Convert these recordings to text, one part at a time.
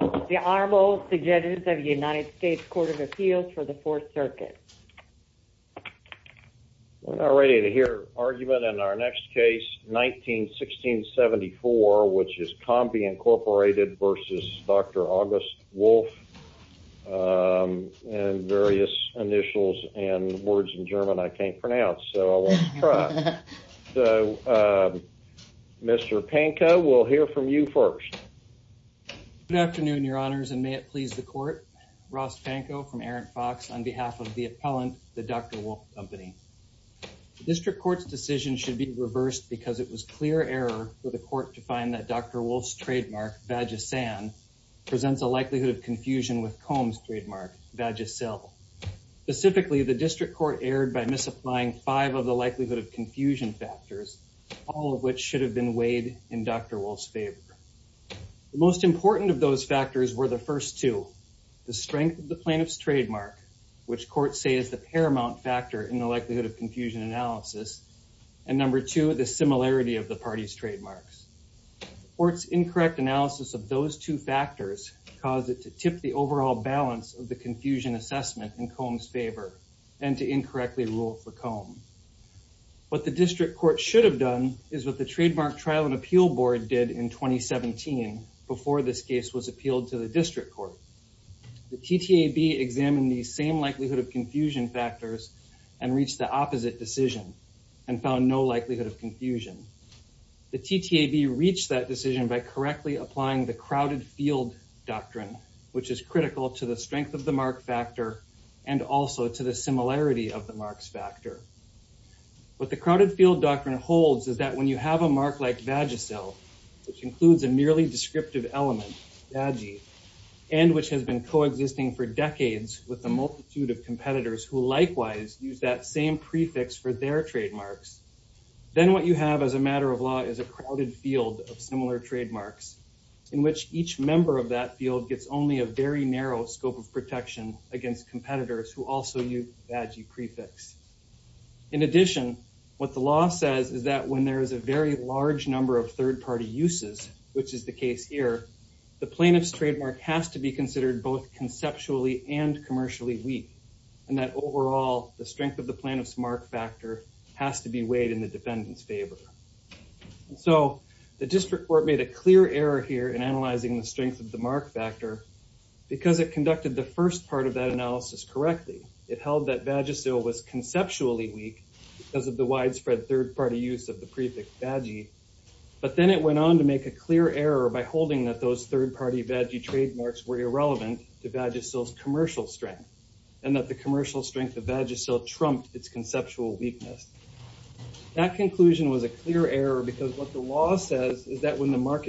The Honorable Suggestions of the United States Court of Appeals for the Fourth Circuit. We're not ready to hear argument in our next case 19-1674 which is Combe Incorporated v. Dr. August Wolff and various initials and words in German I can't pronounce so I won't try. So Mr. Pankow we'll hear from you first. Good afternoon your honors and may it please the court. Ross Pankow from Errant Fox on behalf of the appellant the Dr. Wolff Company. The district court's decision should be reversed because it was clear error for the court to find that Dr. Wolff's trademark Vagisan presents a likelihood of confusion with Combe's trademark Vagisil. Specifically the district court erred by misapplying five of the likelihood of confusion factors all of which should have been weighed in Dr. Wolff's favor. The most important of those factors were the first two the strength of the plaintiff's trademark which courts say is the paramount factor in the likelihood of confusion analysis and number two the similarity of the party's trademarks. The court's incorrect analysis of those two factors caused it to tip the overall balance of the confusion assessment in Combe's favor and to incorrectly rule for Combe. What the district court should have done is what the trademark trial and appeal board did in 2017 before this case was appealed to the district court. The TTAB examined the same likelihood of confusion factors and reached the opposite decision and found no likelihood of confusion. The TTAB reached that decision by correctly applying the crowded field doctrine which is critical to the strength of the mark factor and also to the similarity of the marks factor. What the crowded field doctrine holds is that when you have a mark like Vagisil which includes a merely descriptive element vagi and which has been co-existing for decades with a multitude of competitors who likewise use that same prefix for their trademarks then what you have as a matter of law is a crowded field of similar trademarks in which each member of that field gets only a very narrow scope of protection against competitors who also use vagi prefix. In addition what the law says is that when there is a very large number of third-party uses which is the case here the plaintiff's trademark has to be considered both conceptually and commercially weak and that overall the strength of the plaintiff's mark factor has to be weighed in the defendant's favor. So the district court made a clear error here in analyzing the strength of mark factor because it conducted the first part of that analysis correctly. It held that Vagisil was conceptually weak because of the widespread third-party use of the prefix vagi but then it went on to make a clear error by holding that those third-party vagi trademarks were irrelevant to Vagisil's commercial strength and that the commercial strength of Vagisil trumped its conceptual weakness. That conclusion was a clear error because what the law says is that when the amount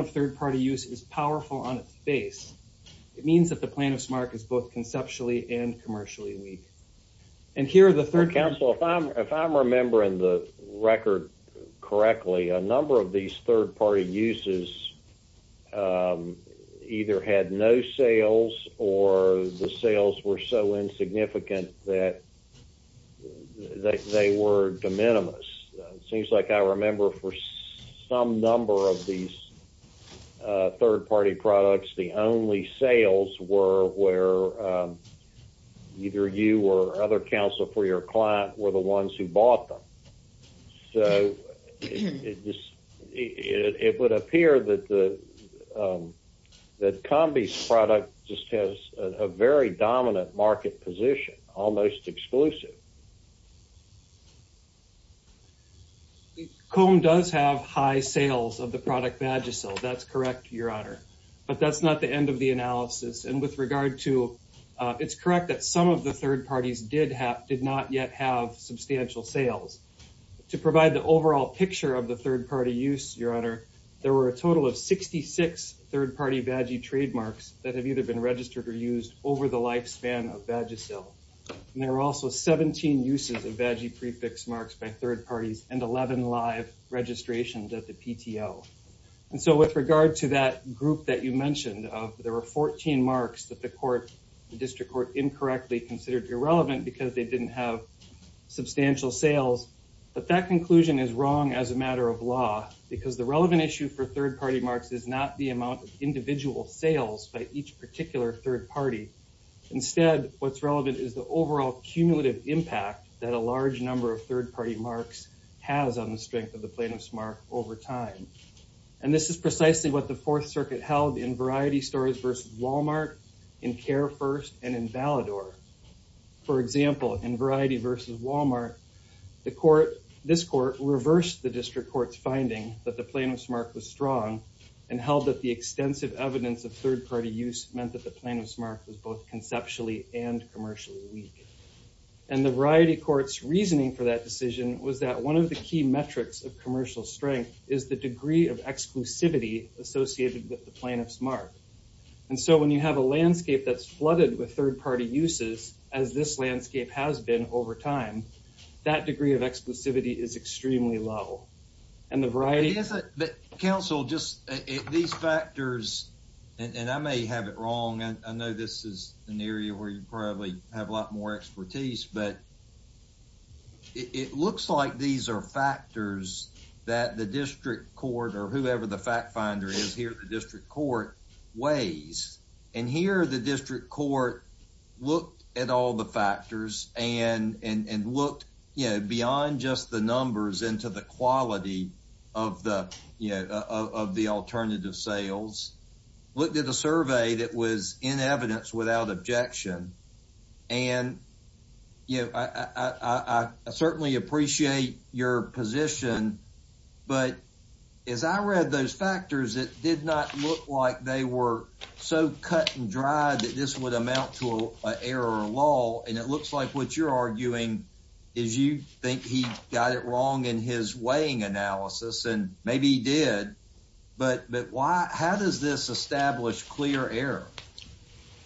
of third-party use is powerful on its face it means that the plaintiff's mark is both conceptually and commercially weak. And here the third council if I'm remembering the record correctly a number of these third-party uses either had no sales or the sales were so insignificant that they were de minimis. It seems like I remember for some number of these third-party products the only sales were where either you or other counsel for your client were the ones who bought them. So it just it would appear that the that Combi's product just has a very dominant market position almost exclusive. Comb does have high sales of the product Vagisil that's correct your honor but that's not the end of the analysis and with regard to it's correct that some of the third parties did have did not yet have substantial sales. To provide the overall picture of the third party use your honor there were a total of 66 third-party Vagi trademarks that have either been registered or used over the lifespan of Vagisil and there were also 17 uses of Vagi prefix marks by third parties and 11 live registrations at the PTO. And so with regard to that group that you mentioned of there were 14 marks that the court the district court incorrectly considered irrelevant because they didn't have substantial sales but that conclusion is wrong as a matter of law because the relevant issue for third-party marks is not the amount of individual sales by each particular third party. Instead what's relevant is the overall cumulative impact that a large number of third-party marks has on the strength of the plaintiff's mark over time. And this is precisely what the Fourth Circuit held in Variety Stories versus Walmart, in Care First, and in Valador. For example in Variety versus Strong and held that the extensive evidence of third-party use meant that the plaintiff's mark was both conceptually and commercially weak. And the Variety court's reasoning for that decision was that one of the key metrics of commercial strength is the degree of exclusivity associated with the plaintiff's mark. And so when you have a landscape that's flooded with third-party uses as this landscape has been over time that degree of exclusivity is extremely low. And the variety isn't but counsel just these factors and I may have it wrong and I know this is an area where you probably have a lot more expertise but it looks like these are factors that the district court or whoever the fact finder is here the district court weighs. And here the district court looked at all the factors and looked you know beyond just the numbers into the quality of the you know of the alternative sales. Looked at a survey that was in evidence without objection and you know I certainly appreciate your position but as I read those factors it did not look like they were so cut and dry that this would amount to a error law. And it looks like what you're arguing is you think he got it wrong in his weighing analysis and maybe he did but why how does this establish clear error?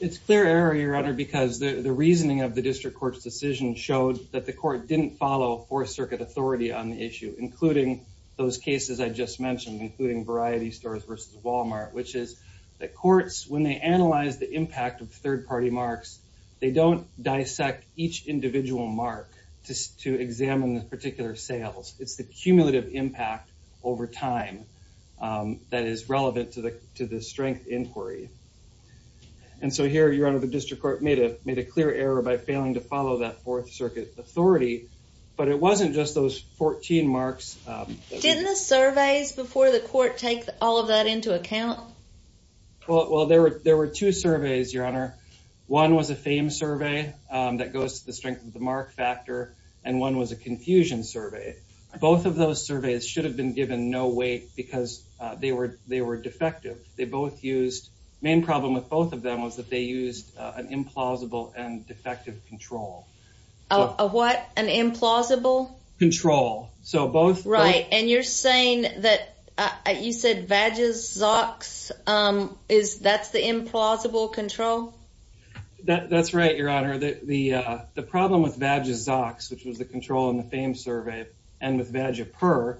It's clear error your honor because the reasoning of the district court's decision showed that the court didn't follow fourth circuit authority on the issue including those cases I just mentioned including Variety stores versus Walmart which is that courts when they analyze the impact of third party marks they don't dissect each individual mark just to examine the particular sales it's the cumulative impact over time that is relevant to the to the strength inquiry. And so here your honor the district court made a made a clear error by failing to follow that fourth circuit authority but it wasn't just those 14 marks. Didn't the were two surveys your honor one was a fame survey that goes to the strength of the mark factor and one was a confusion survey. Both of those surveys should have been given no weight because they were they were defective. They both used main problem with both of them was that they used an implausible and defective control. A what an implausible? Control. So both right and you're saying that you said Vagisox is that's the implausible control? That that's right your honor that the the problem with Vagisox which was the control in the fame survey and with Vagipur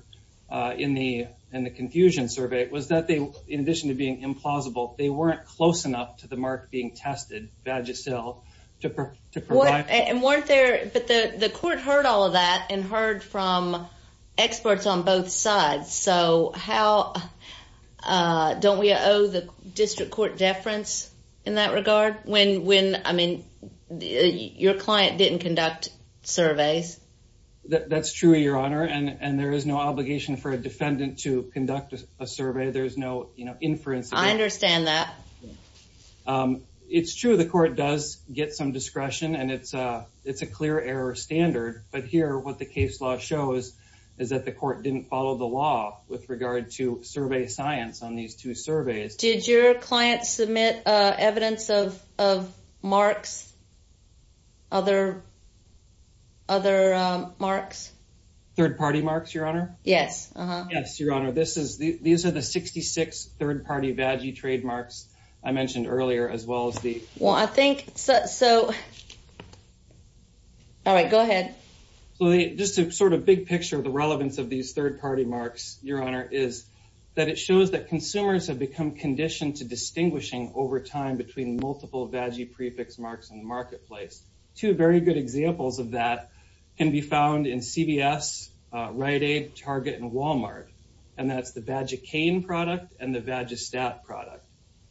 in the in the confusion survey was that they in addition to being implausible they weren't close enough to the mark being tested Vagisil to provide. And weren't there but the the court heard all of that and heard from experts on both sides so how don't we owe the district court deference in that regard when when I mean your client didn't conduct surveys. That's true your honor and and there is no obligation for a defendant to conduct a survey there's no you know inference. I understand that. It's true the court does get some discretion and it's a it's a clear error standard but here what the case law shows is that the court didn't follow the law with regard to survey science on these two surveys. Did your client submit uh evidence of of marks other other um marks? Third-party marks your honor? Yes uh-huh. Yes your honor this is the these are the 66 third-party vagi trademarks I mentioned earlier as well as the. Well I think so All right go ahead. So just a sort of big picture the relevance of these third-party marks your honor is that it shows that consumers have become conditioned to distinguishing over time between multiple vagi prefix marks in the marketplace. Two very good examples of that can be found in CVS, Rite Aid, Target, and Walmart and that's the Vagicane product and the Vagistat product.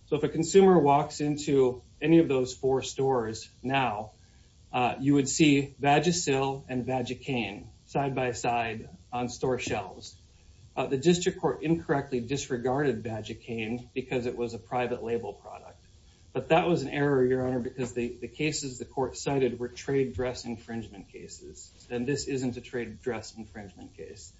So if a consumer walks into any of those four stores now you would see Vagisil and Vagicane side by side on store shelves. The district court incorrectly disregarded Vagicane because it was a private label product but that was an error your honor because the the cases the court cited were trade dress infringement cases and this isn't a trade dress infringement case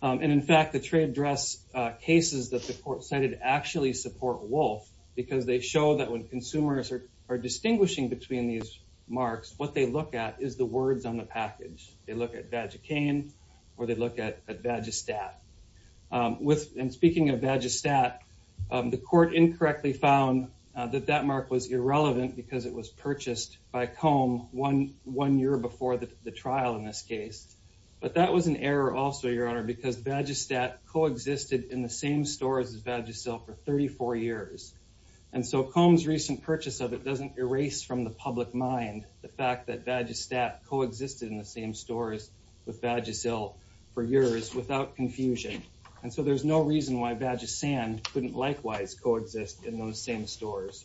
and in fact the trade dress cases that the court cited actually support wolf because they show that when consumers are are distinguishing between these marks what they look at is the words on the package. They look at Vagicane or they look at Vagistat. With and speaking of Vagistat the court incorrectly found that that mark was irrelevant because it was purchased by comb one one year before the trial in this case but that was an error also your honor because Vagistat co-existed in the same stores as Vagisil for 34 years and so comb's recent purchase of it doesn't erase from the public mind the fact that Vagistat co-existed in the same stores with Vagisil for years without confusion and so there's no reason why Vagisan couldn't likewise coexist in those same stores.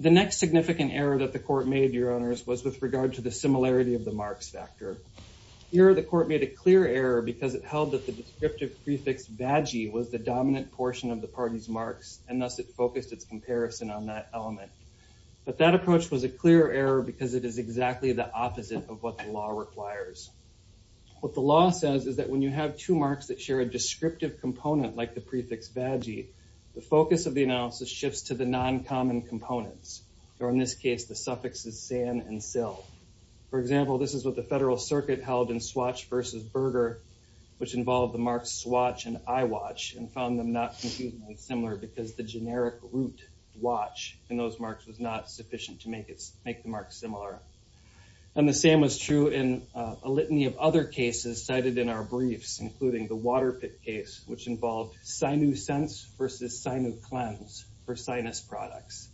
The next significant error that the court made your honors was with regard to the similarity of the marks factor. Here the court made a clear error because it held that the descriptive prefix vaggie was the dominant portion of the party's marks and thus it focused its comparison on that element but that approach was a clear error because it is exactly the opposite of what the law requires. What the law says is that when you have two marks that share a descriptive component like the prefix vaggie the focus of the analysis shifts to the non-common components or in this case the suffixes san and sil. For example this is what the federal circuit held in swatch versus burger which involved the marks swatch and eyewatch and found them not completely similar because the generic root watch in those marks was not sufficient to make it make the mark similar and the same was true in a litany of other cases cited in our briefs including the water pit case which involved sinew sense versus sinew cleanse for sinus products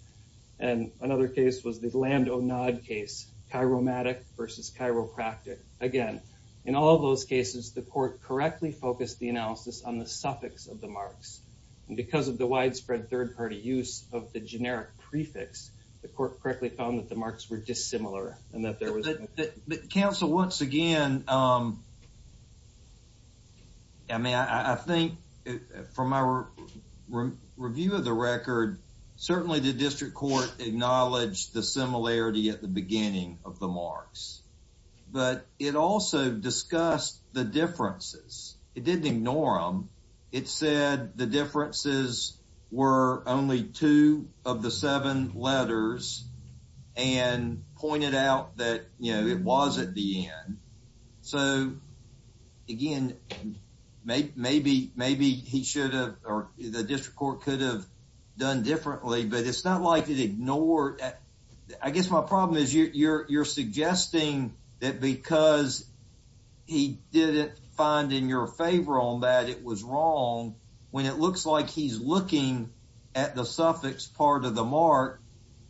and another case was the lambda nod case chiromatic versus chiropractic. Again in all those cases the court correctly focused the analysis on the suffix of the marks and because of the widespread third-party use of the generic prefix the court correctly found that the marks were dissimilar and that there was counsel once again I mean I think from our review of the record certainly the district court acknowledged the similarity at the beginning of the marks but it also discussed the differences it didn't ignore them it said the differences were only two of the seven letters and pointed out that you know it was at the end so again maybe he should have or the district court could have done differently but it's not like it ignored that I guess my problem is you're suggesting that because he didn't find in your favor on that it was wrong when it looks like he's looking at the suffix part of the mark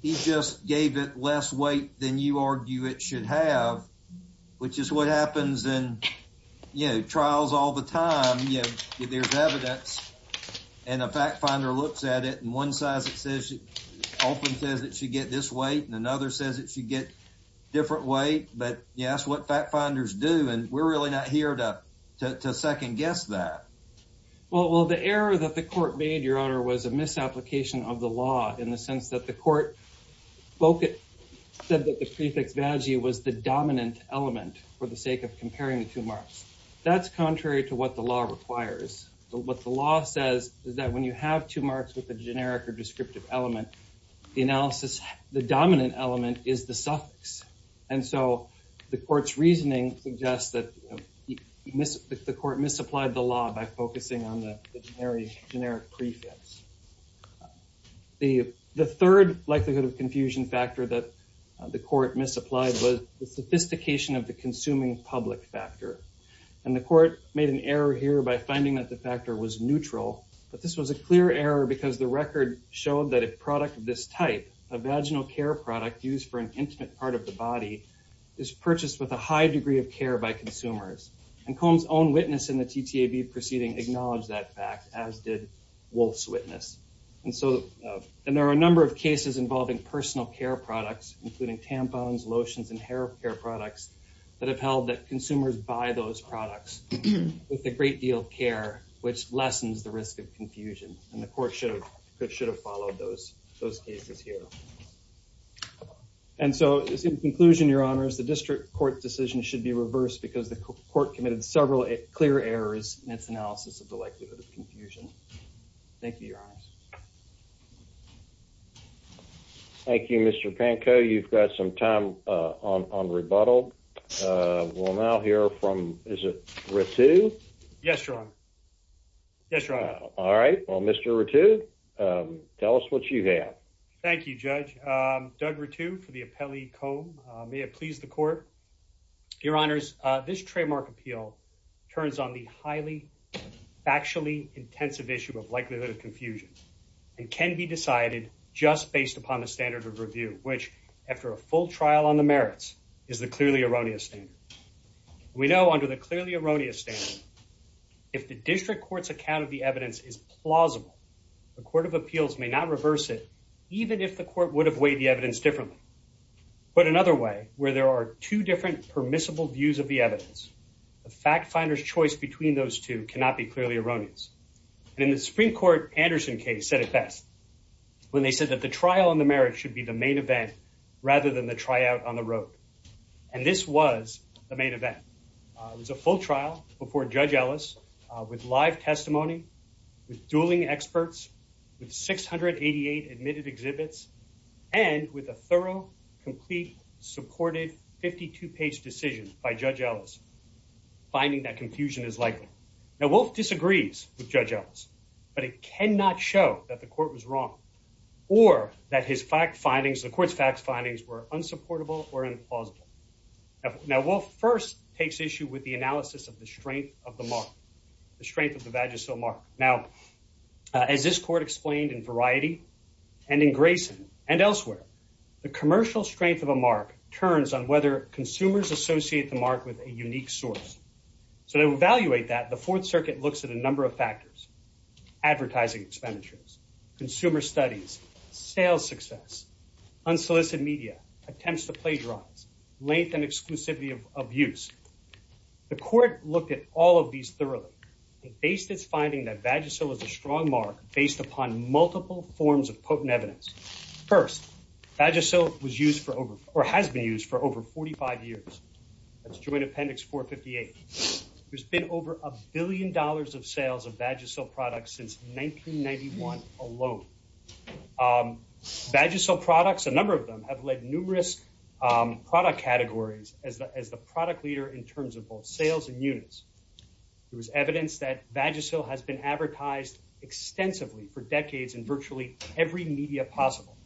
he just gave it less weight than you argue it should have which is what happens in you know trials all the time you know there's evidence and a fact finder looks at it and one size it says often says it should get this weight and another says it should get different weight but yes what fact finders do and we're really not here to to second guess that well the error that the court made your honor was a misapplication of the law in the sense that the court spoke it said that the prefix vaggie was the dominant element for the sake of comparing the two marks that's contrary to what the law requires what the law says is that when you have two marks with a generic or descriptive element the analysis the dominant element is the by focusing on the generic prefix the the third likelihood of confusion factor that the court misapplied was the sophistication of the consuming public factor and the court made an error here by finding that the factor was neutral but this was a clear error because the record showed that a product of this type a vaginal care product used for an intimate part of the body is purchased with a high degree of care by consumers and combs own witness in the ttab proceeding acknowledged that fact as did wolf's witness and so and there are a number of cases involving personal care products including tampons lotions and hair care products that have held that consumers buy those products with a great deal of care which lessens the risk of confusion and the honors the district court decision should be reversed because the court committed several clear errors in its analysis of the likelihood of confusion thank you your honors thank you mr panko you've got some time uh on on rebuttal uh we'll now hear from is it ritu yes your honor yes all right well mr ritu um tell us what you have thank you judge um for the appellee comb may it please the court your honors uh this trademark appeal turns on the highly factually intensive issue of likelihood of confusion and can be decided just based upon the standard of review which after a full trial on the merits is the clearly erroneous standard we know under the clearly erroneous standard if the district court's account of the evidence is plausible the court of appeals may not reverse it even if the court would have the evidence differently but another way where there are two different permissible views of the evidence the fact finder's choice between those two cannot be clearly erroneous and in the supreme court anderson case said it best when they said that the trial on the merit should be the main event rather than the tryout on the road and this was the main event it was a full trial before judge with live testimony with dueling experts with 688 admitted exhibits and with a thorough complete supported 52 page decision by judge ellis finding that confusion is likely now wolf disagrees with judge ellis but it cannot show that the court was wrong or that his fact findings the court's facts findings were unsupportable or implausible now wolf first takes issue with the analysis of the strength of the mark the strength of the vagisil mark now as this court explained in variety and in grayson and elsewhere the commercial strength of a mark turns on whether consumers associate the mark with a unique source so to evaluate that the fourth circuit looks at a number of factors advertising expenditures consumer studies sales success unsolicited media attempts to plagiarize length and exclusivity of abuse the court looked at all of these thoroughly it based its finding that vagisil is a strong mark based upon multiple forms of potent evidence first vagisil was used for over or has been used for over 45 years that's joint appendix 458 there's been over a billion dollars of sales of vagisil products since 1991 alone um vagisil products a number of them have led numerous um product categories as the as the product leader in terms of both sales and units there was evidence that vagisil has been advertised extensively for decades in virtually every media possible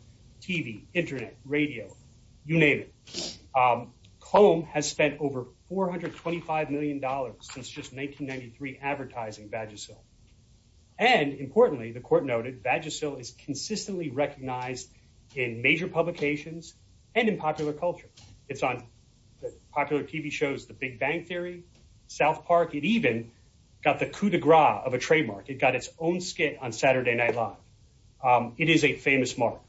tv internet radio you name it comb has spent over 425 million dollars since just 1993 advertising vagisil and importantly the court noted vagisil is consistently recognized in major publications and in popular culture it's on popular tv shows the big bang theory south park it even got the coup de gras of a trademark it got its own skit on saturday night live um it is a famous mark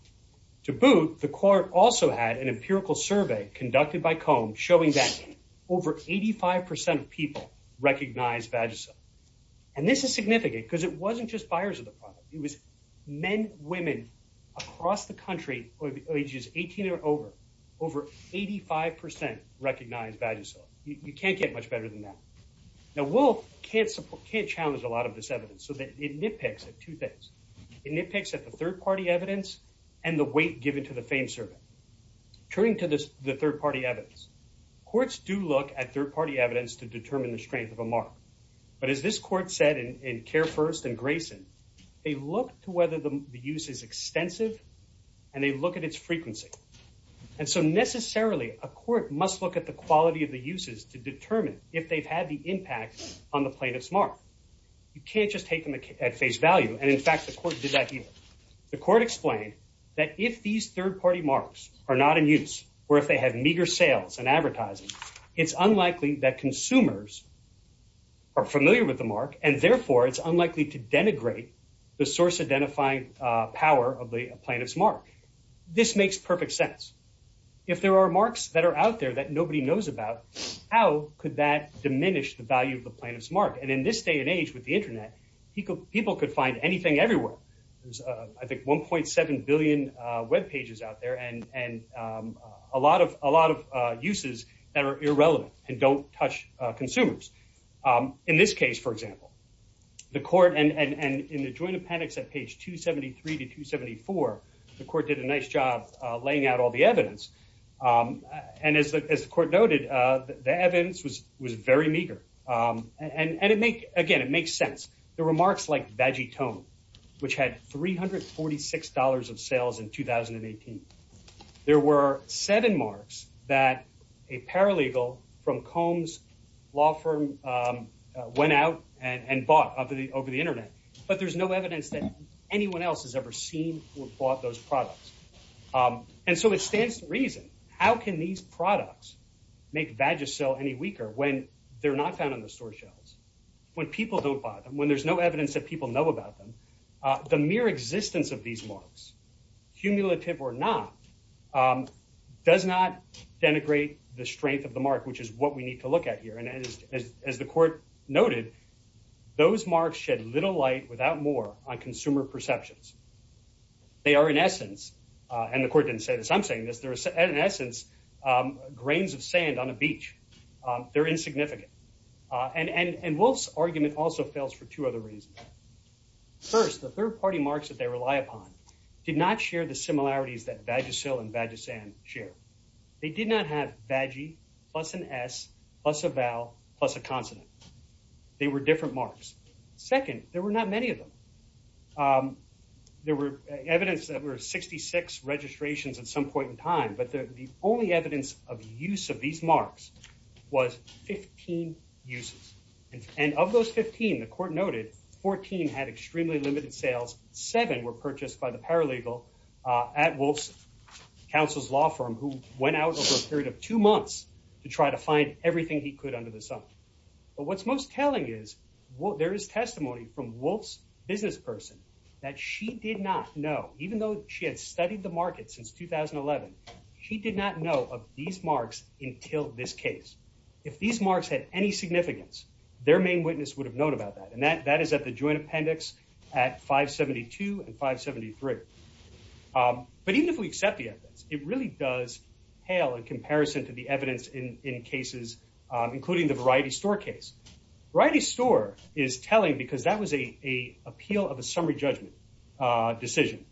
to boot the court also had an empirical survey conducted by comb showing that over 85 percent of people recognize vagisil and this is significant because it wasn't just buyers of the product it was men women across the country ages 18 or over over 85 percent recognize vagisil you can't get much better than that now wolf can't support can't challenge a lot of this evidence so that it nitpicks at two things it nitpicks at the third party evidence and the weight given to the fame survey turning to this the third party evidence courts do look at third party evidence to mark but as this court said in care first and grayson they look to whether the use is extensive and they look at its frequency and so necessarily a court must look at the quality of the uses to determine if they've had the impact on the plaintiff's mark you can't just take them at face value and in fact the court did that either the court explained that if these third party marks are not in use or if they have meager sales and advertising it's unlikely that consumers are familiar with the mark and therefore it's unlikely to denigrate the source identifying power of the plaintiff's mark this makes perfect sense if there are marks that are out there that nobody knows about how could that diminish the value of the plaintiff's mark and in this day and age with the internet people people could find anything everywhere there's uh i think 1.7 billion uh web pages out there and and um a lot of a lot of uh uses that are irrelevant and don't touch uh consumers um in this case for example the court and and and in the joint appendix at page 273 to 274 the court did a nice job uh laying out all the evidence um and as the as the court noted uh the evidence was was very meager um and and it make again it makes sense there were marks like veggie tone which had 346 dollars of sales in 2018 there were seven marks that a paralegal from combs law firm um went out and and bought over the over the internet but there's no evidence that anyone else has ever seen who bought those products um and so it stands to reason how can these products make vagisil any weaker when they're not found on the store shelves when people don't buy them when there's no evidence that people know about them uh the mere existence of the mark which is what we need to look at here and as as the court noted those marks shed little light without more on consumer perceptions they are in essence uh and the court didn't say this i'm saying this there is an essence um grains of sand on a beach um they're insignificant uh and and wolf's argument also fails for two other reasons first the third party marks that they rely upon did not share the similarities that vagisil and vagisan share they did not have veggie plus an s plus a vowel plus a consonant they were different marks second there were not many of them um there were evidence that were 66 registrations at some point in time but the only evidence of use of these marks was 15 uses and of those 15 the court noted 14 had extremely limited sales seven were purchased by the paralegal uh at wolf's counsel's law firm who went out over a period of two months to try to find everything he could under the sun but what's most telling is what there is testimony from wolf's business person that she did not know even though she had studied the market since 2011 she did not know of these marks until this case if these marks had any significance their main witness would have known about that and that that is at the joint appendix at 572 and 573 um but even if we accept the evidence it really does hail in comparison to the evidence in in cases including the variety store case variety store is telling because that was a a appeal of a summary judgment uh decision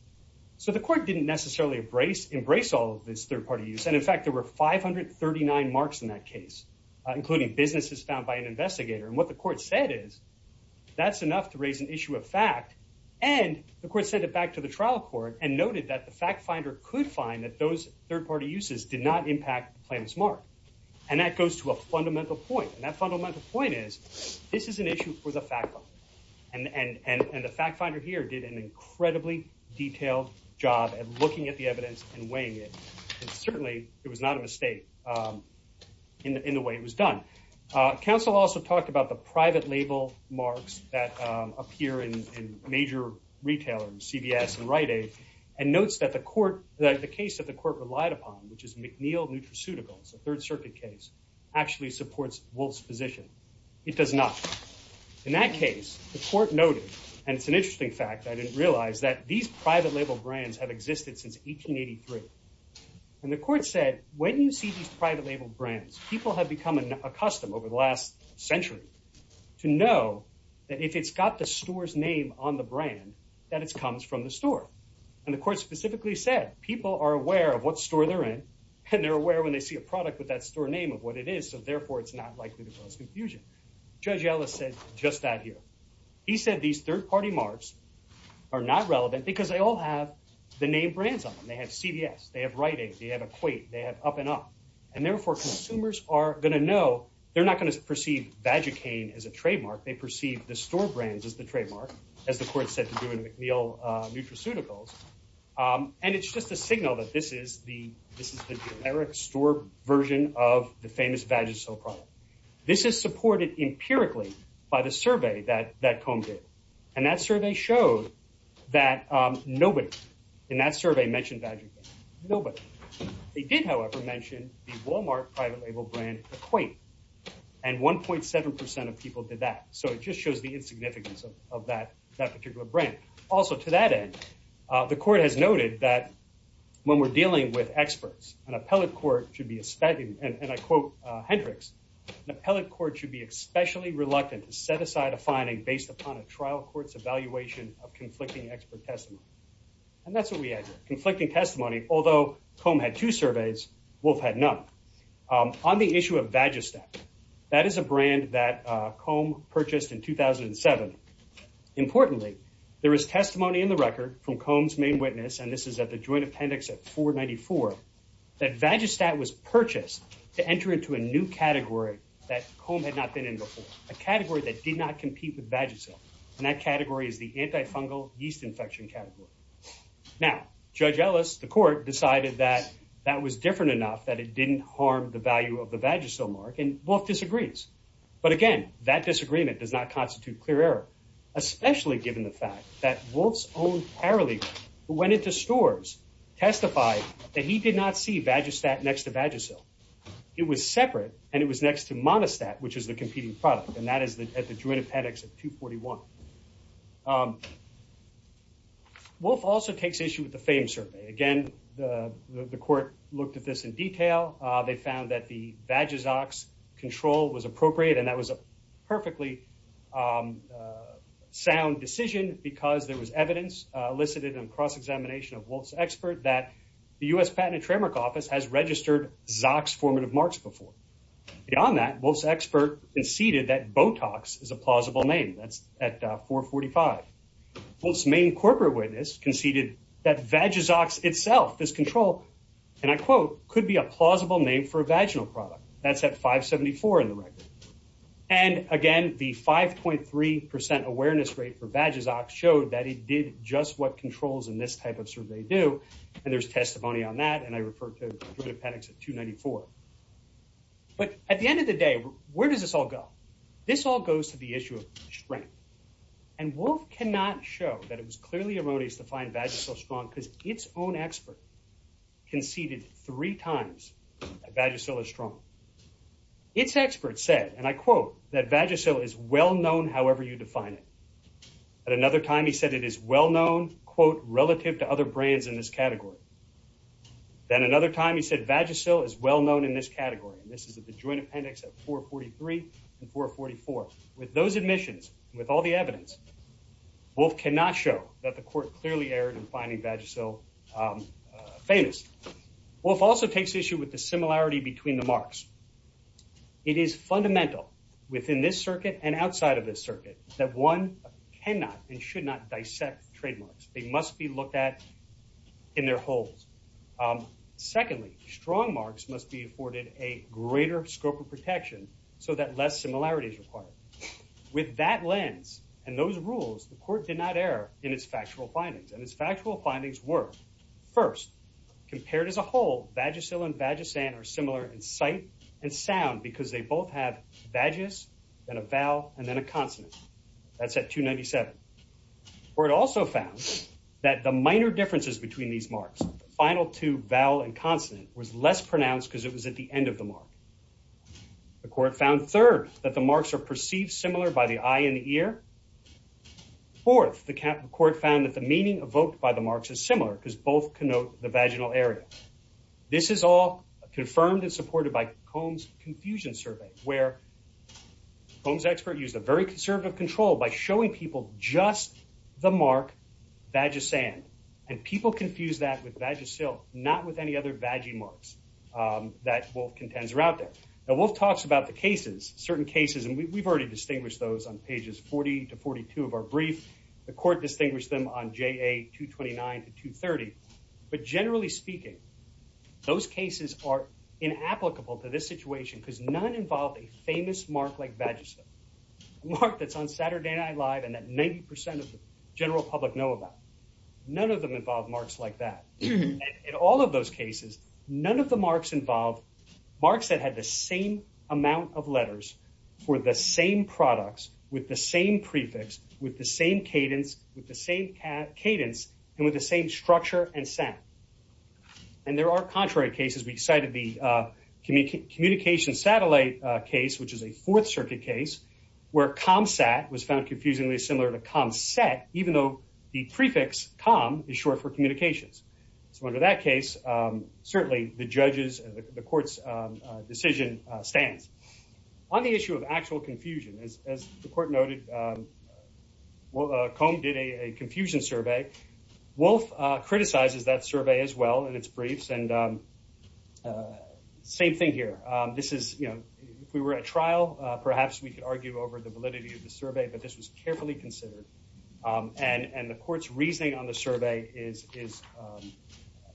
so the court didn't necessarily embrace embrace all of this third party use and in fact there were 539 marks in that case including businesses found by an investigator and what the court said is that's enough to raise an issue of fact and the court sent it back to the trial court and noted that fact finder could find that those third-party uses did not impact the plaintiff's mark and that goes to a fundamental point and that fundamental point is this is an issue for the fact and and and and the fact finder here did an incredibly detailed job at looking at the evidence and weighing it and certainly it was not a mistake um in the way it was done uh counsel also talked about the private label marks that um appear in in major retailers cvs and rite-aid and notes that the court that the case that the court relied upon which is mcneil nutraceuticals a third circuit case actually supports wolf's position it does not in that case the court noted and it's an interesting fact i didn't realize that these private label brands have existed since 1883 and the court said when you see these private label brands people have become accustomed over the last century to know that if it's got the store's name on the brand that it comes from the store and the court specifically said people are aware of what store they're in and they're aware when they see a product with that store name of what it is so therefore it's not likely to cause confusion judge ellis said just that here he said these third-party marks are not relevant because they all have the name brands on them they have cvs they have writing they have equate they have up and up and therefore consumers are going to know they're not going to perceive vagicaine as a trademark they perceive the store brands as the trademark as the court said to do in mcneil nutraceuticals um and it's just a signal that this is the this is the generic store version of the famous vagisil product this is supported empirically by the survey that that combed it and that survey showed that um nobody in that survey mentioned vagicaine nobody they did however mention the walmart private label brand equate and 1.7 of people did that so it just shows the insignificance of that that particular brand also to that end uh the court has noted that when we're dealing with experts an appellate court should be expecting and i quote uh hendrix an appellate court should be especially reluctant to set aside a finding based upon a trial court's evaluation of conflicting expert testimony and that's what we had conflicting testimony although comb had two surveys wolf had none um on the issue of vagistat that is a brand that uh comb purchased in 2007 importantly there is testimony in the record from comb's main witness and this is at the joint appendix at 494 that vagistat was purchased to enter into a new category that comb had not been in before a category that did not compete with vagisil and that category is the antifungal yeast infection category now judge ellis the court decided that that was different enough that it didn't harm the value of the vagisil mark and wolf disagrees but again that disagreement does not constitute clear error especially given the fact that wolf's own paralegal who went into stores testified that he did not see vagistat next to vagisil it was separate and it was next to monostat which is the competing product and that is the at the joint appendix at 241 um wolf also takes issue with the fame survey again the the court looked at this in detail uh they found that the vagisox control was appropriate and that was a perfectly um sound decision because there was evidence uh elicited in cross-examination of wolf's expert that the u.s patent and trademark office has registered zox formative marks before beyond that wolf's expert conceded that botox is a plausible name that's at 445 wolf's main corporate witness conceded that vagisox itself this control and i quote could be a plausible name for a vaginal product that's at 574 in the record and again the 5.3 percent awareness rate for vagisox showed that it did just what controls in this type of survey do and there's testimony on that and i refer to the appendix at 294 but at the end of the day where does this all go this all goes to the issue of strength and wolf cannot show that it was clearly erroneous to find vagisil strong because its own expert conceded three times that vagisil is strong its expert said and i quote that vagisil is well known however you define it at another time he said it is well known quote relative to other brands in this category then another time he said vagisil is well known in this category and this is at the joint appendix at 443 and 444 with those admissions with all the evidence wolf cannot show that the court clearly erred in finding vagisil famous wolf also takes issue with the similarity between the marks it is fundamental within this circuit and outside of this circuit that one cannot and should not dissect trademarks they must be looked at in their holes secondly strong marks must be afforded a greater scope of protection so that less similarity is required with that lens and those rules the court did not err in its factual findings and its factual findings were first compared as a whole vagisil and vagisan are similar in sight and sound because they both have vagis and a vowel and then a consonant that's at 297 where it also found that the minor differences between these marks final two vowel and consonant was less pronounced because it was at the end of the mark the court found third that the marks are perceived similar by the eye and the ear fourth the court found that the meaning evoked by the marks is similar because both connote the vaginal area this is all confirmed and supported by combs confusion survey where combs expert used a very conservative control by showing people just the mark vagisand and people confuse that with vagisil not with any other vagi marks that wolf contends are out there now wolf talks about the cases certain cases and we've already distinguished those on pages 40 to 42 of our brief the court distinguished them on ja 229 to 230 but generally speaking those cases are inapplicable to this situation because none involve a famous mark like vagisil mark that's saturday night live and that 90 percent of the general public know about none of them involve marks like that in all of those cases none of the marks involve marks that had the same amount of letters for the same products with the same prefix with the same cadence with the same cadence and with the same structure and sound and there are contrary cases we cited the uh communication satellite case which is a fourth circuit case where com sat was found confusingly similar to com set even though the prefix com is short for communications so under that case um certainly the judges the court's decision stands on the issue of actual confusion as as the court noted well comb did a confusion survey wolf uh criticizes that survey as well in its briefs and uh same thing here um this is you know if we were at trial uh perhaps we could argue over the validity of the survey but this was carefully considered um and and the court's reasoning on the survey is is um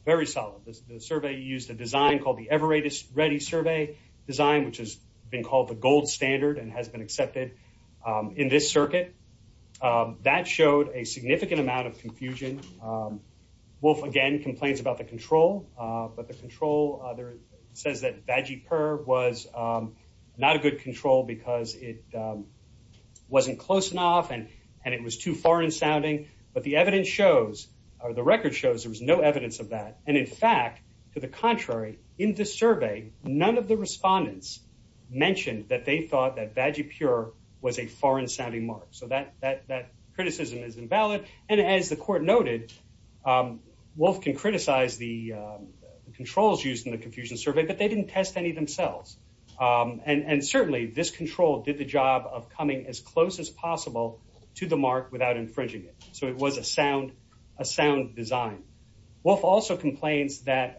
very solid the survey used a design called the ever ready ready survey design which has been called the gold standard and has been accepted um in this circuit um that the control uh there says that vaggie purr was um not a good control because it um wasn't close enough and and it was too foreign sounding but the evidence shows or the record shows there was no evidence of that and in fact to the contrary in this survey none of the respondents mentioned that they thought that vaggie pure was a foreign sounding mark so that that that criticism is valid and as the court noted um wolf can criticize the controls used in the confusion survey but they didn't test any themselves um and and certainly this control did the job of coming as close as possible to the mark without infringing it so it was a sound a sound design wolf also complains that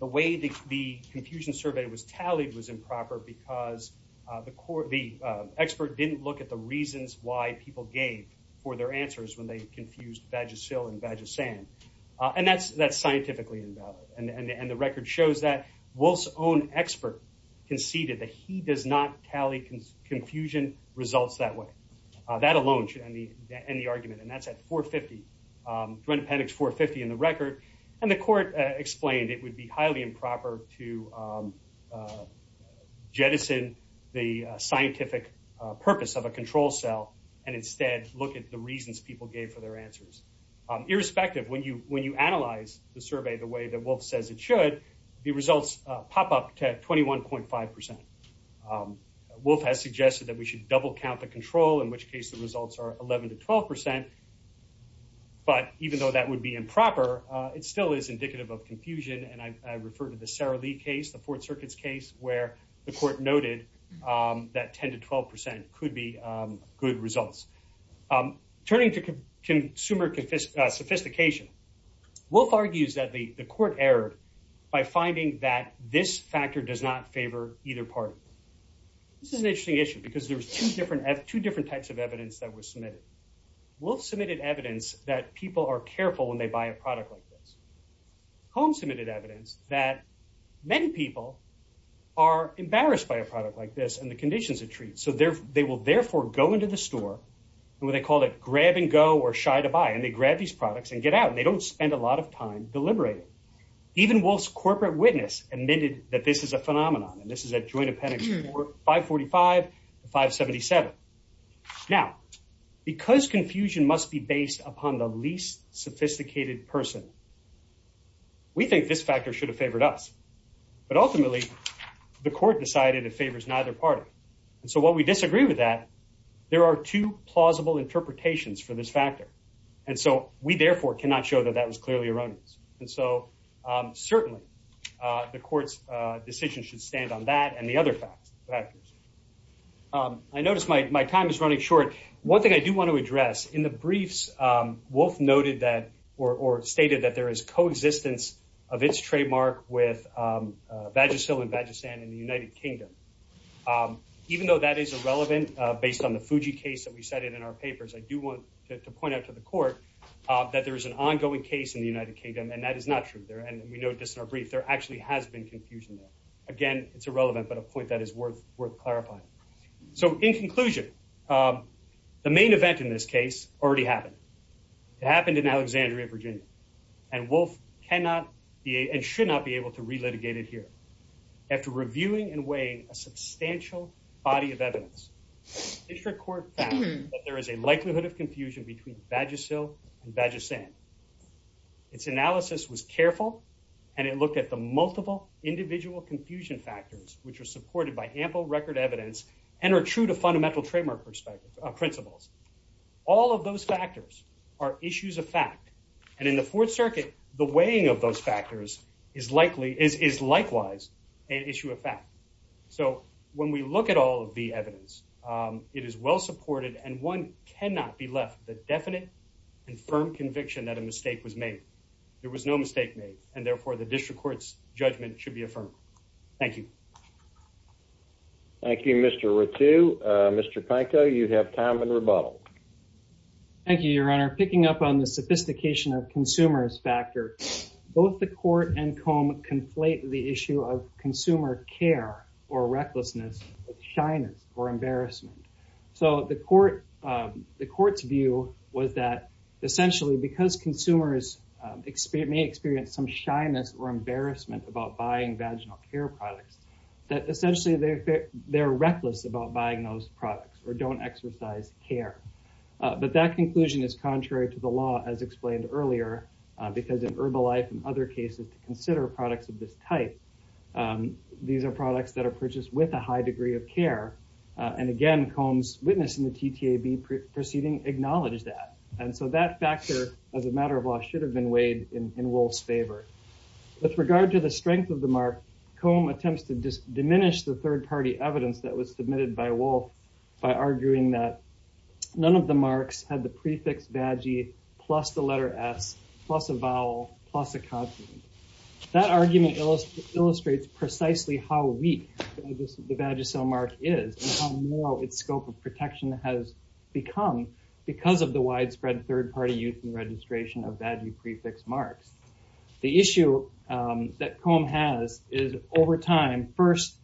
the way the confusion survey was tallied was improper because uh the court the expert didn't look at the reasons why people gave for their answers when they confused vagisil and vagisand and that's that's scientifically invalid and and the record shows that wolf's own expert conceded that he does not tally confusion results that way uh that alone should end the end the argument and that's at 450 um juan appendix 450 in the record and the court explained it would be and instead look at the reasons people gave for their answers irrespective when you when you analyze the survey the way that wolf says it should the results pop up to 21.5 wolf has suggested that we should double count the control in which case the results are 11 to 12 but even though that would be improper it still is indicative of confusion and i refer to the sarah case the fourth circuit's case where the court noted um that 10 to 12 percent could be um good results um turning to consumer sophistication wolf argues that the the court errored by finding that this factor does not favor either party this is an interesting issue because there's two different two different types of evidence that was submitted wolf submitted evidence that people are careful when they buy a product like this home submitted evidence that many people are embarrassed by a product like this and the conditions it treats so they're they will therefore go into the store and when they call it grab and go or shy to buy and they grab these products and get out and they don't spend a lot of time deliberating even wolf's corporate witness admitted that this is a phenomenon and this is a joint appendix for 545 577 now because confusion must be based upon the least sophisticated person we think this factor should have favored us but ultimately the court decided it favors neither party and so while we disagree with that there are two plausible interpretations for this factor and so we therefore cannot show that that was clearly erroneous and so um certainly uh the court's uh decision should stand on that and the other facts factors um i or stated that there is coexistence of its trademark with um vagisil and vagisand in the united kingdom um even though that is irrelevant uh based on the fuji case that we cited in our papers i do want to point out to the court uh that there is an ongoing case in the united kingdom and that is not true there and we note this in our brief there actually has been confusion there again it's irrelevant but a point that is worth worth clarifying so in conclusion um the main in alexandria virginia and wolf cannot be and should not be able to relitigate it here after reviewing and weighing a substantial body of evidence district court found that there is a likelihood of confusion between vagisil and vagisand its analysis was careful and it looked at the multiple individual confusion factors which are supported by ample record evidence and are are issues of fact and in the fourth circuit the weighing of those factors is likely is is likewise an issue of fact so when we look at all of the evidence um it is well supported and one cannot be left the definite and firm conviction that a mistake was made there was no mistake made and therefore the district court's judgment should be affirmed thank you thank you mr ratu uh mr panko you have time and rebuttal thank you your honor picking up on the sophistication of consumers factor both the court and comb conflate the issue of consumer care or recklessness shyness or embarrassment so the court um the court's view was that essentially because consumers may experience some shyness or embarrassment about buying vaginal care that essentially they they're reckless about buying those products or don't exercise care but that conclusion is contrary to the law as explained earlier because in herbal life and other cases to consider products of this type these are products that are purchased with a high degree of care and again combs witnessing the ttab proceeding acknowledged that and so that factor as a matter of law should have been weighed in in wolf's favor with regard to the strength of mark comb attempts to diminish the third-party evidence that was submitted by wolf by arguing that none of the marks had the prefix vaggie plus the letter s plus a vowel plus a consonant that argument illustrates precisely how weak the vagisil mark is and how narrow its scope of protection has become because of the widespread third-party use and registration of vaggie over time first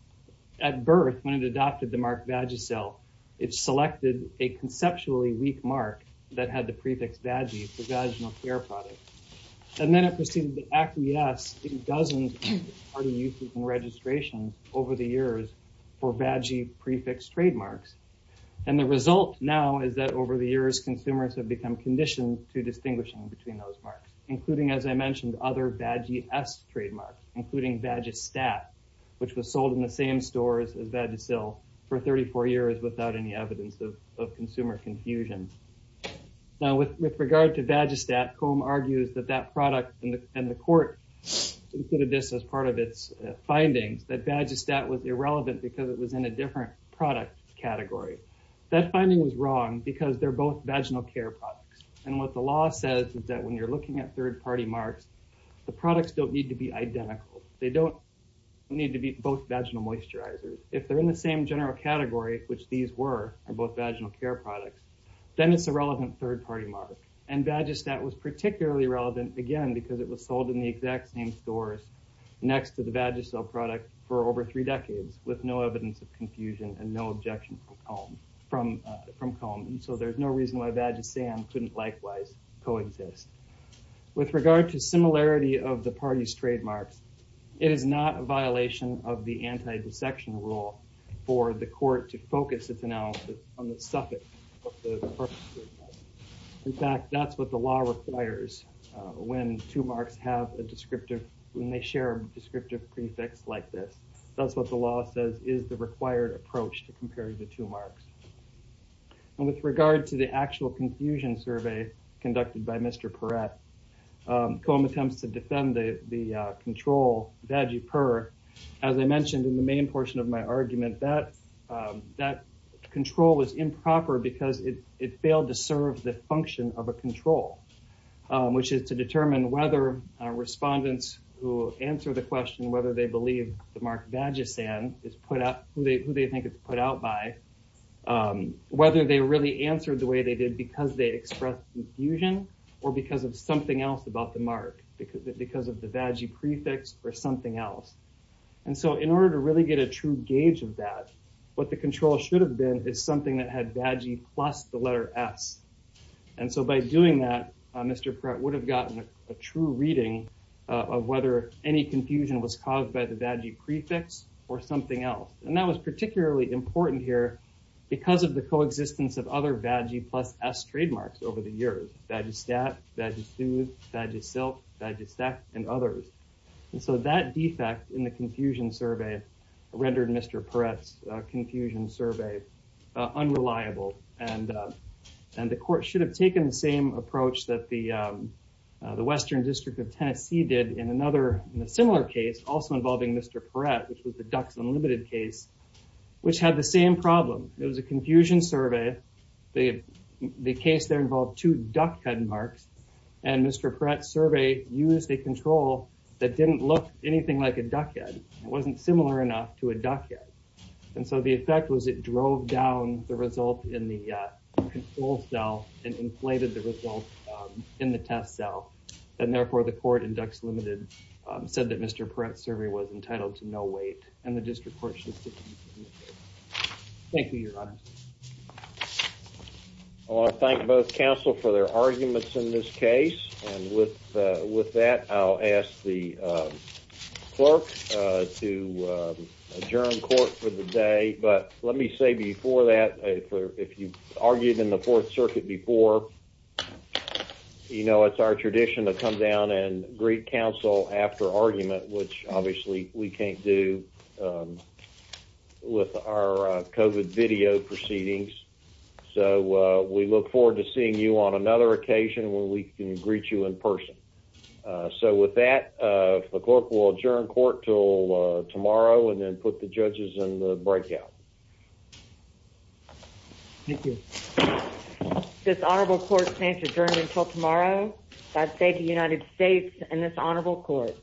at birth when it adopted the mark vagisil it selected a conceptually weak mark that had the prefix vaggie for vaginal care products and then it proceeded to acquiesce in dozens of third-party uses and registrations over the years for vaggie prefix trademarks and the result now is that over the years consumers have become conditioned to distinguishing between including as I mentioned other vaggie s trademarks including vagistat which was sold in the same stores as vagisil for 34 years without any evidence of consumer confusion now with regard to vagistat comb argues that that product and the court included this as part of its findings that vagistat was irrelevant because it was in a different product category that finding was wrong because they're both vaginal care products and what the law says is that when you're looking at third-party marks the products don't need to be identical they don't need to be both vaginal moisturizers if they're in the same general category which these were are both vaginal care products then it's a relevant third-party mark and vagistat was particularly relevant again because it was sold in the exact same stores next to the vagisil product for over three decades with no evidence of confusion and no objection from comb and so there's no reason why vagisam couldn't likewise coexist with regard to similarity of the party's trademarks it is not a violation of the anti-dissection rule for the court to focus its analysis on the suffix in fact that's what the law requires when two marks have a descriptive when they share a is the required approach to compare the two marks and with regard to the actual confusion survey conducted by mr perrette com attempts to defend the the control vagi per as i mentioned in the main portion of my argument that that control was improper because it it failed to serve the function of a control which is to determine whether respondents who answer the question whether they believe the mark vagisam is put up who they who they think it's put out by whether they really answered the way they did because they expressed confusion or because of something else about the mark because of the vagi prefix or something else and so in order to really get a true gauge of that what the control should have been is something that had vagi plus the letter s and so by doing that mr perrette would have gotten a true reading of whether any confusion was caused by the vagi prefix or something else and that was particularly important here because of the coexistence of other vagi plus s trademarks over the years that you stat that you soothe that you silk that you stack and others and so that defect in the confusion survey rendered mr perrette's confusion survey unreliable and and the court should have taken the same approach that the western district of tennessee did in another in a similar case also involving mr perrette which was the ducks unlimited case which had the same problem it was a confusion survey the the case there involved two duckhead marks and mr perrette's survey used a control that didn't look anything like a duckhead it wasn't similar enough to a duckhead and so the effect was it in the test cell and therefore the court in ducks limited said that mr perrette's survey was entitled to no weight and the district court should thank you your honor i want to thank both council for their arguments in this case and with with that i'll ask the clerk to adjourn court for the day but let me say before that if you argued in the fourth circuit before you know it's our tradition to come down and greet council after argument which obviously we can't do with our covid video proceedings so we look forward to seeing you on another occasion when we can greet you in person so with that uh the clerk will adjourn court till tomorrow and put the judges in the breakout thank you this honorable court stands adjourned until tomorrow i say to united states and this honorable court